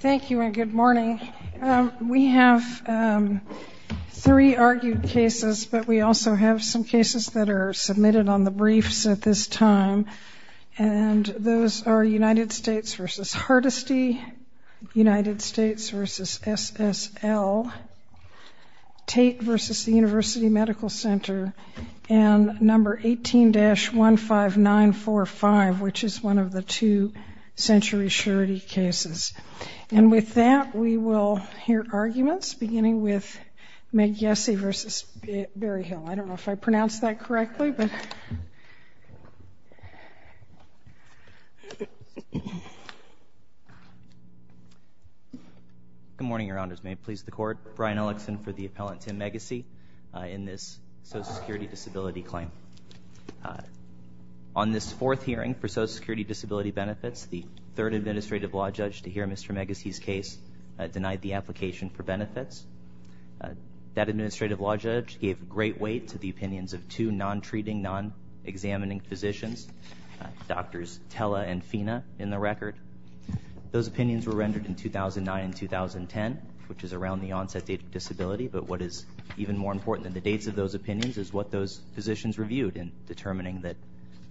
Thank you and good morning. We have three argued cases, but we also have some cases that are submitted on the briefs at this time. And those are United States v. Hardesty, United States v. SSL, Tate v. The University Medical Center, and No. 18-15945, which is one of the two century surety cases. And with that, we will hear arguments beginning with Megyesi v. Berryhill. I don't know if I pronounced that correctly. Good morning, Your Honors. May it please the Court? Brian Ellickson for the appellant, Tim Megyesi, in this Social Security Disability claim. On this fourth hearing for Social Security Disability benefits, the third administrative law judge to hear Mr. Megyesi's case denied the application for benefits. That administrative law judge gave great weight to the opinions of two non-treating, non-examining physicians, Drs. Tella and Fina, in the record. Those opinions were rendered in 2009 and 2010, which is around the onset date of disability. But what is even more important than the dates of those opinions is what those physicians reviewed in determining that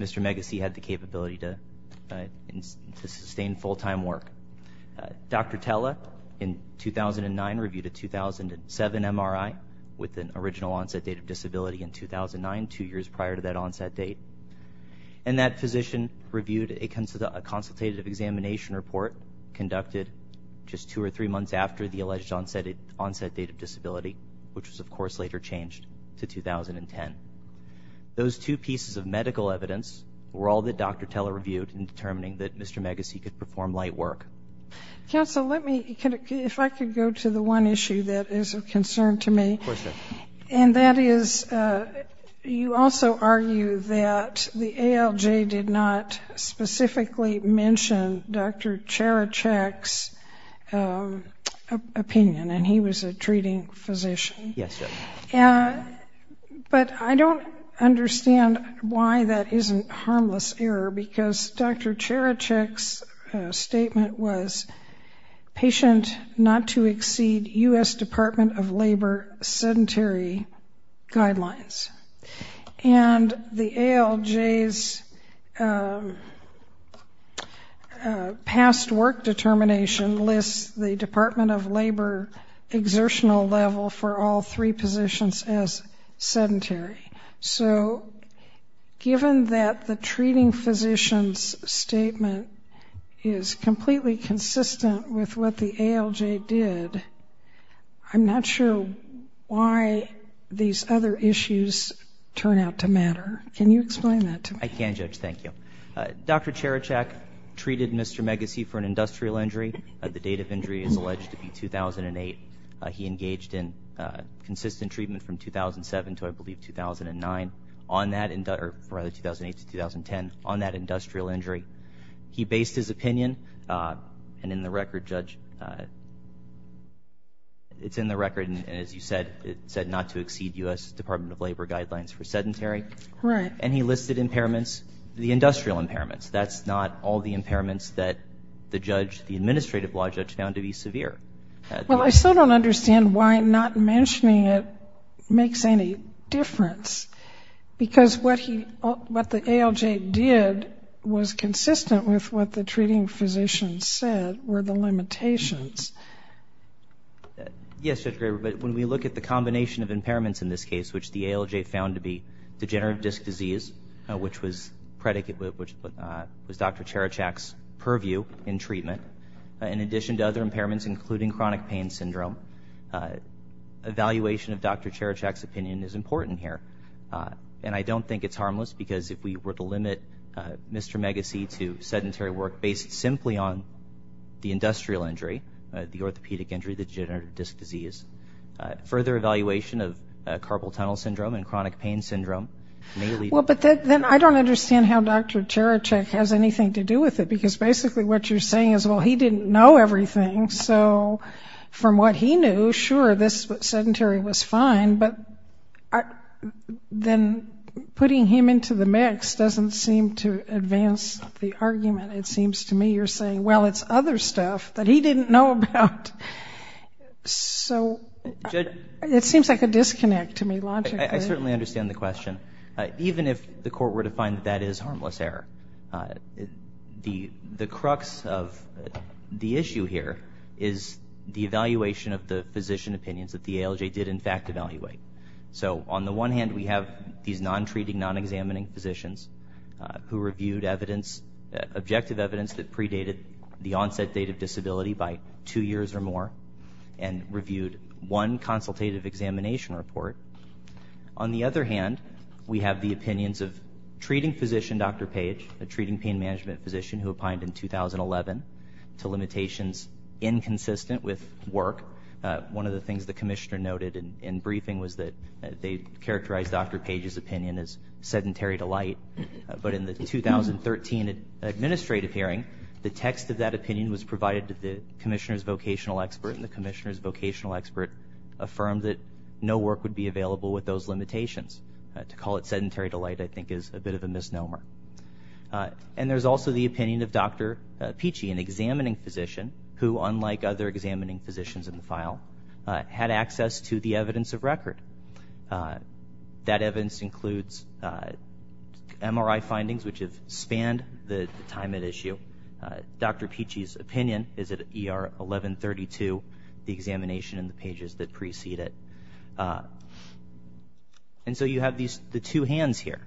Mr. Megyesi had the capability to sustain full-time work. Dr. Tella, in 2009, reviewed a 2007 MRI with an original onset date of disability in 2009, two years prior to that onset date. And that physician reviewed a consultative examination report conducted just two or three months after the alleged onset date of disability, which was, of course, later changed to 2010. Those two pieces of medical evidence were all that Dr. Tella reviewed in determining that Mr. Megyesi could perform light work. Counsel, let me, if I could go to the one issue that is of concern to me. Of course, Judge. And that is, you also argue that the ALJ did not specifically mention Dr. Cherechek's opinion, and he was a treating physician. Yes, Judge. But I don't understand why that isn't harmless error, because Dr. Cherechek's statement was patient not to exceed U.S. Department of Labor sedentary guidelines. And the ALJ's past work determination lists the Department of Labor exertional level for all three positions as sedentary. So given that the treating physician's statement is completely consistent with what the ALJ did, I'm not sure why these other issues turn out to matter. Can you explain that to me? I can, Judge. Thank you. Dr. Cherechek treated Mr. Megyesi for an industrial injury. The date of injury is alleged to be 2008. He engaged in consistent treatment from 2007 to, I believe, 2009 on that, or rather 2008 to 2010, on that industrial injury. He based his opinion, and in the record, Judge, it's in the record, and as you said, it said not to exceed U.S. Department of Labor guidelines for sedentary. Right. And he listed impairments, the industrial impairments. That's not all the impairments that the judge, the administrative law judge, found to be severe. Well, I still don't understand why not mentioning it makes any difference. Because what he, what the ALJ did was consistent with what the treating physician said were the limitations. Yes, Judge Graber, but when we look at the combination of impairments in this case, which the ALJ found to be degenerative disc disease, which was predicated, which was Dr. Cherechek's purview in treatment, in addition to other impairments including chronic pain syndrome, evaluation of Dr. Cherechek's opinion is important here. And I don't think it's harmless because if we were to limit Mr. Megyesi to sedentary work based simply on the industrial injury, the orthopedic injury, the degenerative disc disease, further evaluation of carpal tunnel syndrome and chronic pain syndrome may lead- Well, but then I don't understand how Dr. Cherechek has anything to do with it. Because basically what you're saying is, well, he didn't know everything. So from what he knew, sure, this sedentary was fine. But then putting him into the mix doesn't seem to advance the argument, it seems to me. You're saying, well, it's other stuff that he didn't know about. So it seems like a disconnect to me, logically. I certainly understand the question. Even if the court were to find that that is harmless error, the crux of the issue here is the evaluation of the physician opinions that the ALJ did in fact evaluate. So on the one hand, we have these non-treating, non-examining physicians who reviewed evidence, objective evidence that predated the onset date of disability by two years or more and reviewed one consultative examination report. On the other hand, we have the opinions of treating physician Dr. Page, a treating pain management physician who applied in 2011 to limitations inconsistent with work. One of the things the commissioner noted in briefing was that they characterized Dr. Page's opinion as sedentary to light. But in the 2013 administrative hearing, the text of that opinion was provided to the commissioner's vocational expert, and the commissioner's vocational expert affirmed that no work would be available with those limitations. To call it sedentary to light, I think, is a bit of a misnomer. And there's also the opinion of Dr. Peachy, an examining physician, who, unlike other examining physicians in the file, had access to the evidence of record. That evidence includes MRI findings, which have spanned the time at issue. Dr. Peachy's opinion is at ER 1132, the examination and the pages that precede it. And so you have the two hands here.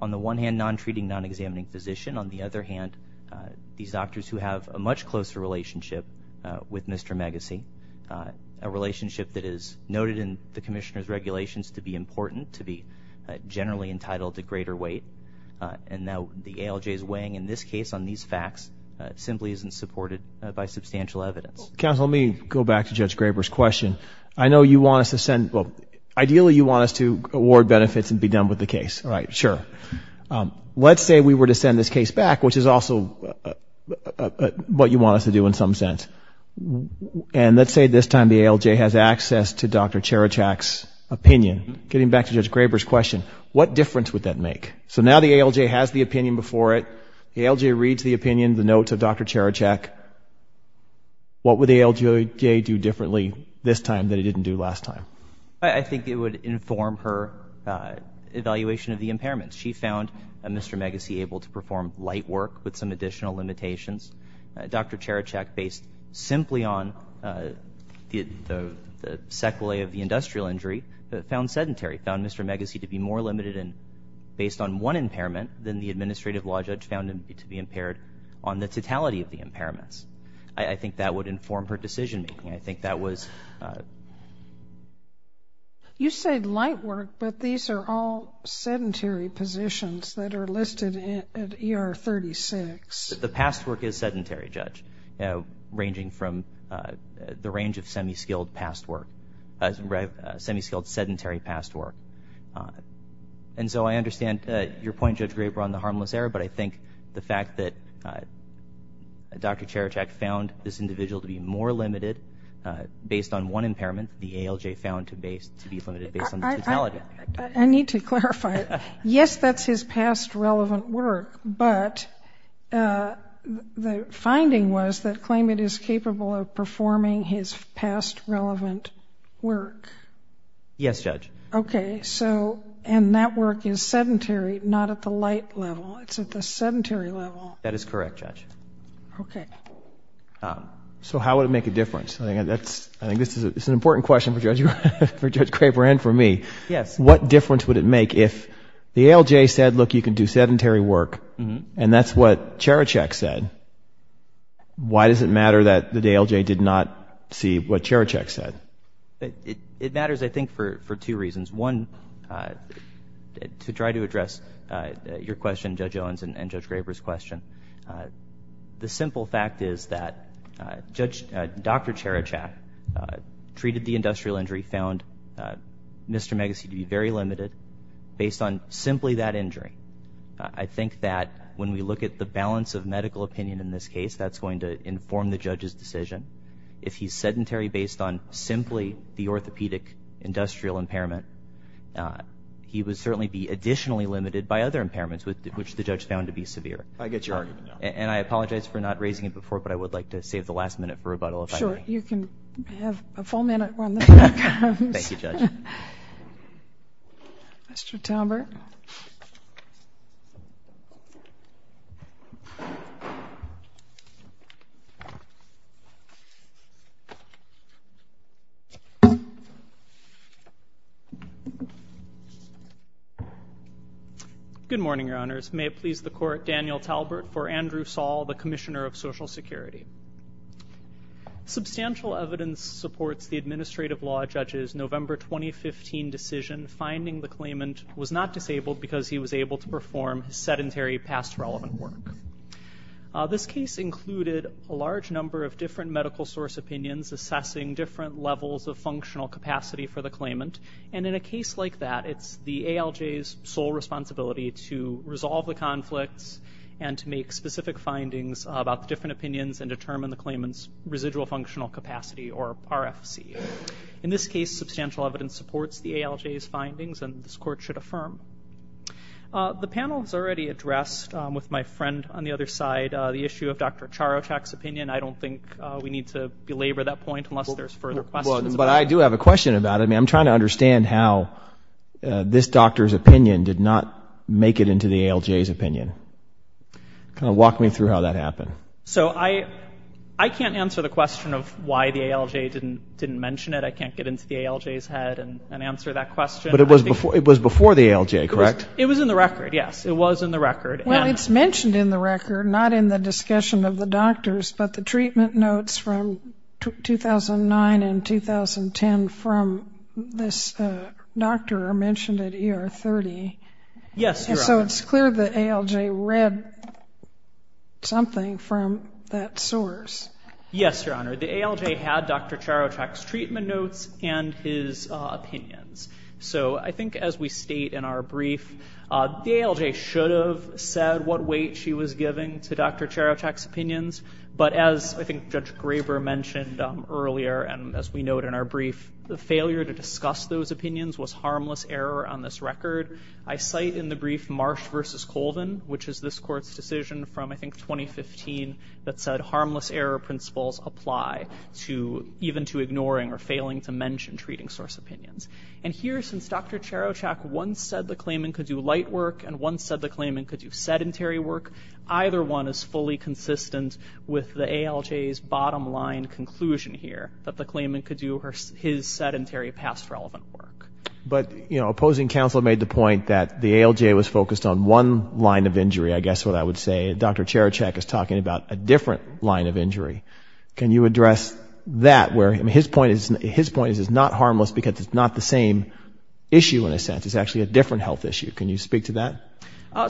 On the one hand, non-treating, non-examining physician. On the other hand, these doctors who have a much closer relationship with Mr. Magacy, a relationship that is noted in the commissioner's regulations to be important, to be generally entitled to greater weight. And now the ALJ is weighing, in this case, on these facts. It simply isn't supported by substantial evidence. Counsel, let me go back to Judge Graber's question. I know you want us to send—ideally, you want us to award benefits and be done with the case. All right, sure. Let's say we were to send this case back, which is also what you want us to do in some sense. And let's say this time the ALJ has access to Dr. Cherichak's opinion. Getting back to Judge Graber's question, what difference would that make? So now the ALJ has the opinion before it. The ALJ reads the opinion, the notes of Dr. Cherichak. What would the ALJ do differently this time than it didn't do last time? I think it would inform her evaluation of the impairments. She found Mr. Magacy able to perform light work with some additional limitations. Dr. Cherichak, based simply on the sequelae of the industrial injury, found sedentary, found Mr. Magacy to be more limited based on one impairment than the administrative law judge found him to be impaired on the totality of the impairments. I think that would inform her decision making. I think that was— You said light work, but these are all sedentary positions that are listed at ER 36. The past work is sedentary, Judge, ranging from the range of semi-skilled past work, semi-skilled sedentary past work. And so I understand your point, Judge Graber, on the harmless error, but I think the fact that Dr. Cherichak found this individual to be more limited based on one impairment, the ALJ found to be limited based on the totality. I need to clarify. Yes, that's his past relevant work, but the finding was that claimant is capable of performing his past relevant work. Yes, Judge. Okay. And that work is sedentary, not at the light level. It's at the sedentary level. That is correct, Judge. Okay. So how would it make a difference? I think this is an important question for Judge Graber and for me. Yes. What difference would it make if the ALJ said, look, you can do sedentary work, and that's what Cherichak said, why does it matter that the ALJ did not see what Cherichak said? It matters, I think, for two reasons. One, to try to address your question, Judge Owens, and Judge Graber's question, the simple fact is that Dr. Cherichak treated the industrial injury, and we found Mr. Megacy to be very limited based on simply that injury. I think that when we look at the balance of medical opinion in this case, that's going to inform the judge's decision. If he's sedentary based on simply the orthopedic industrial impairment, he would certainly be additionally limited by other impairments, which the judge found to be severe. I get your argument now. And I apologize for not raising it before, but I would like to save the last minute for rebuttal if I may. All right. You can have a full minute when the time comes. Thank you, Judge. Mr. Talbert. Good morning, Your Honors. May it please the Court, Daniel Talbert for Andrew Saul, the Commissioner of Social Security. Substantial evidence supports the administrative law judge's November 2015 decision, finding the claimant was not disabled because he was able to perform sedentary past relevant work. This case included a large number of different medical source opinions assessing different levels of functional capacity for the claimant, and in a case like that, it's the ALJ's sole responsibility to resolve the conflicts and to make specific findings about the different opinions and determine the claimant's residual functional capacity, or RFC. In this case, substantial evidence supports the ALJ's findings, and this Court should affirm. The panel has already addressed, with my friend on the other side, the issue of Dr. Charochak's opinion. I don't think we need to belabor that point unless there's further questions. But I do have a question about it. I mean, I'm trying to understand how this doctor's opinion did not make it into the ALJ's opinion. Kind of walk me through how that happened. So I can't answer the question of why the ALJ didn't mention it. I can't get into the ALJ's head and answer that question. But it was before the ALJ, correct? It was in the record, yes. It was in the record. Well, it's mentioned in the record, not in the discussion of the doctors, but the treatment notes from 2009 and 2010 from this doctor are mentioned at ER 30. Yes, Your Honor. So it's clear the ALJ read something from that source. Yes, Your Honor. The ALJ had Dr. Charochak's treatment notes and his opinions. So I think as we state in our brief, the ALJ should have said what weight she was giving to Dr. Charochak's opinions, but as I think Judge Graber mentioned earlier and as we note in our brief, the failure to discuss those opinions was harmless error on this record. I cite in the brief Marsh v. Colvin, which is this court's decision from, I think, 2015, that said harmless error principles apply even to ignoring or failing to mention treating source opinions. And here, since Dr. Charochak once said the claimant could do light work and once said the claimant could do sedentary work, either one is fully consistent with the ALJ's bottom line conclusion here, that the claimant could do his sedentary past relevant work. But, you know, opposing counsel made the point that the ALJ was focused on one line of injury, I guess what I would say. Dr. Charochak is talking about a different line of injury. Can you address that? His point is it's not harmless because it's not the same issue in a sense. It's actually a different health issue. Can you speak to that?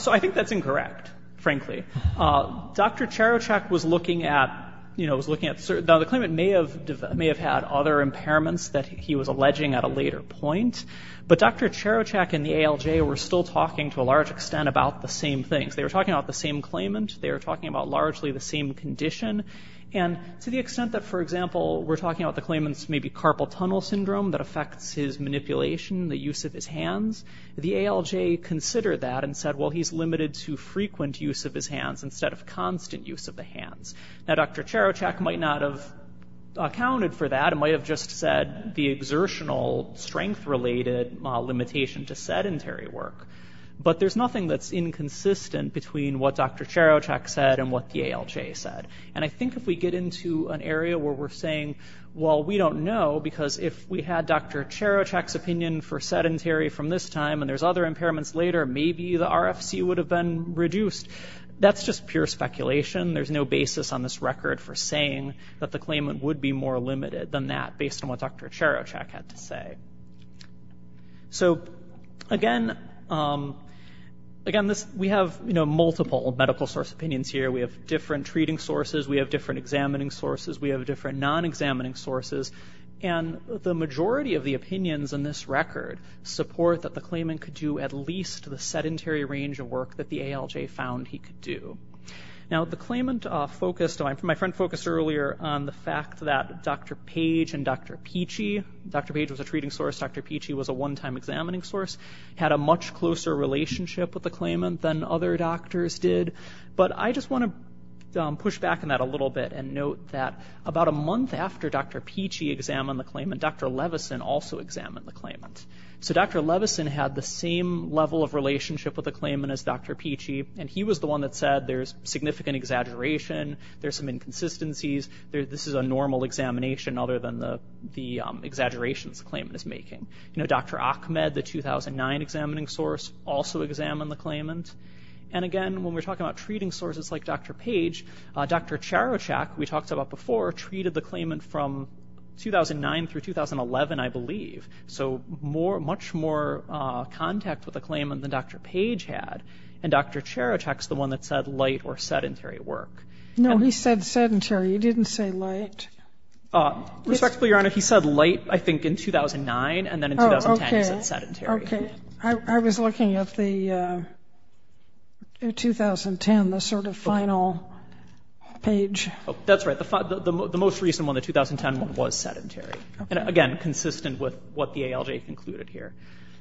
So I think that's incorrect, frankly. Dr. Charochak was looking at the claimant may have had other impairments that he was alleging at a later point, but Dr. Charochak and the ALJ were still talking to a large extent about the same things. They were talking about the same claimant. They were talking about largely the same condition. And to the extent that, for example, we're talking about the claimant's maybe carpal tunnel syndrome that affects his manipulation, the use of his hands, the ALJ considered that and said, well, he's limited to frequent use of his hands instead of constant use of the hands. Now, Dr. Charochak might not have accounted for that and might have just said the exertional strength-related limitation to sedentary work. But there's nothing that's inconsistent between what Dr. Charochak said and what the ALJ said. And I think if we get into an area where we're saying, well, we don't know because if we had Dr. Charochak's opinion for sedentary from this time and there's other impairments later, maybe the RFC would have been reduced. That's just pure speculation. There's no basis on this record for saying that the claimant would be more limited than that based on what Dr. Charochak had to say. So, again, we have multiple medical source opinions here. We have different treating sources. We have different examining sources. We have different non-examining sources. And the majority of the opinions in this record support that the claimant could do at least the sedentary range of work that the ALJ found he could do. Now, the claimant focused, my friend focused earlier on the fact that Dr. Page and Dr. Peachy, Dr. Page was a treating source, Dr. Peachy was a one-time examining source, had a much closer relationship with the claimant than other doctors did. But I just want to push back on that a little bit and note that about a month after Dr. Peachy examined the claimant, Dr. Levison also examined the claimant. So Dr. Levison had the same level of relationship with the claimant as Dr. Peachy, and he was the one that said there's significant exaggeration, there's some inconsistencies, this is a normal examination other than the exaggerations the claimant is making. Dr. Ahmed, the 2009 examining source, also examined the claimant. And again, when we're talking about treating sources like Dr. Page, Dr. Charochak, we talked about before, treated the claimant from 2009 through 2011, I believe. So much more contact with the claimant than Dr. Page had, and Dr. Charochak's the one that said light or sedentary work. No, he said sedentary, he didn't say light. Respectfully, Your Honor, he said light, I think, in 2009, and then in 2010 he said sedentary. Okay. I was looking at the 2010, the sort of final page. That's right. The most recent one, the 2010 one, was sedentary. Again, consistent with what the ALJ concluded here.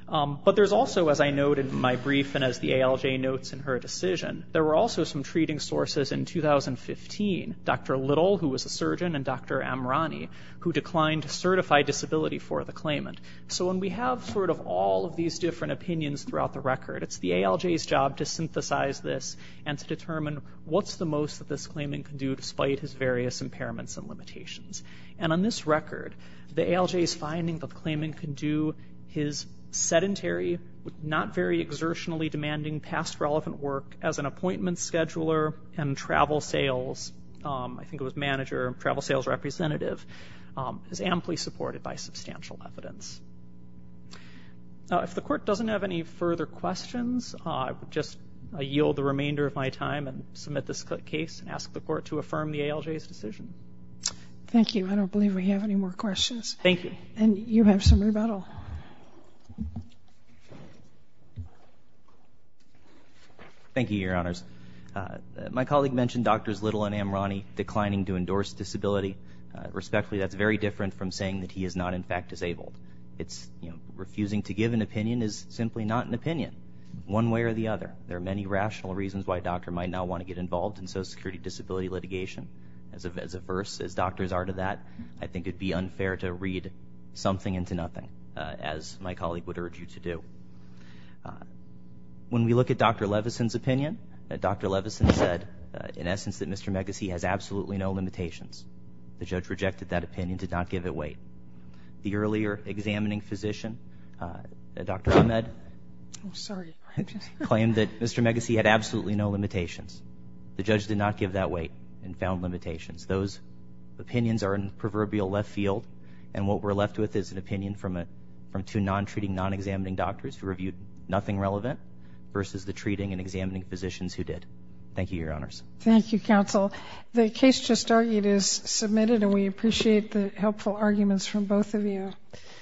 But there's also, as I noted in my brief and as the ALJ notes in her decision, there were also some treating sources in 2015, Dr. Little, who was a surgeon, and Dr. Amrani, who declined certified disability for the claimant. So when we have sort of all of these different opinions throughout the record, it's the ALJ's job to synthesize this and to determine what's the most that this claimant can do despite his various impairments and limitations. And on this record, the ALJ's finding that the claimant can do his sedentary, not very exertionally demanding past relevant work as an appointment scheduler and travel sales, I think it was manager, travel sales representative, is amply supported by substantial evidence. If the court doesn't have any further questions, I would just yield the remainder of my time and submit this case and ask the court to affirm the ALJ's decision. Thank you. I don't believe we have any more questions. Thank you. And you have some rebuttal. Thank you, Your Honors. My colleague mentioned Drs. Little and Amrani declining to endorse disability. Respectfully, that's very different from saying that he is not, in fact, disabled. Refusing to give an opinion is simply not an opinion, one way or the other. There are many rational reasons why a doctor might not want to get involved in social security disability litigation. As adverse as doctors are to that, I think it would be unfair to read something into nothing, as my colleague would urge you to do. When we look at Dr. Levison's opinion, Dr. Levison said, in essence, that Mr. Megacy has absolutely no limitations. The judge rejected that opinion, did not give it weight. The earlier examining physician, Dr. Ahmed, claimed that Mr. Megacy had absolutely no limitations. The judge did not give that weight and found limitations. Those opinions are in proverbial left field, and what we're left with is an opinion from two non-treating, non-examining doctors who reviewed nothing relevant versus the treating and examining physicians who did. Thank you, Your Honors. Thank you, Counsel. The case just argued is submitted, and we appreciate the helpful arguments from both of you.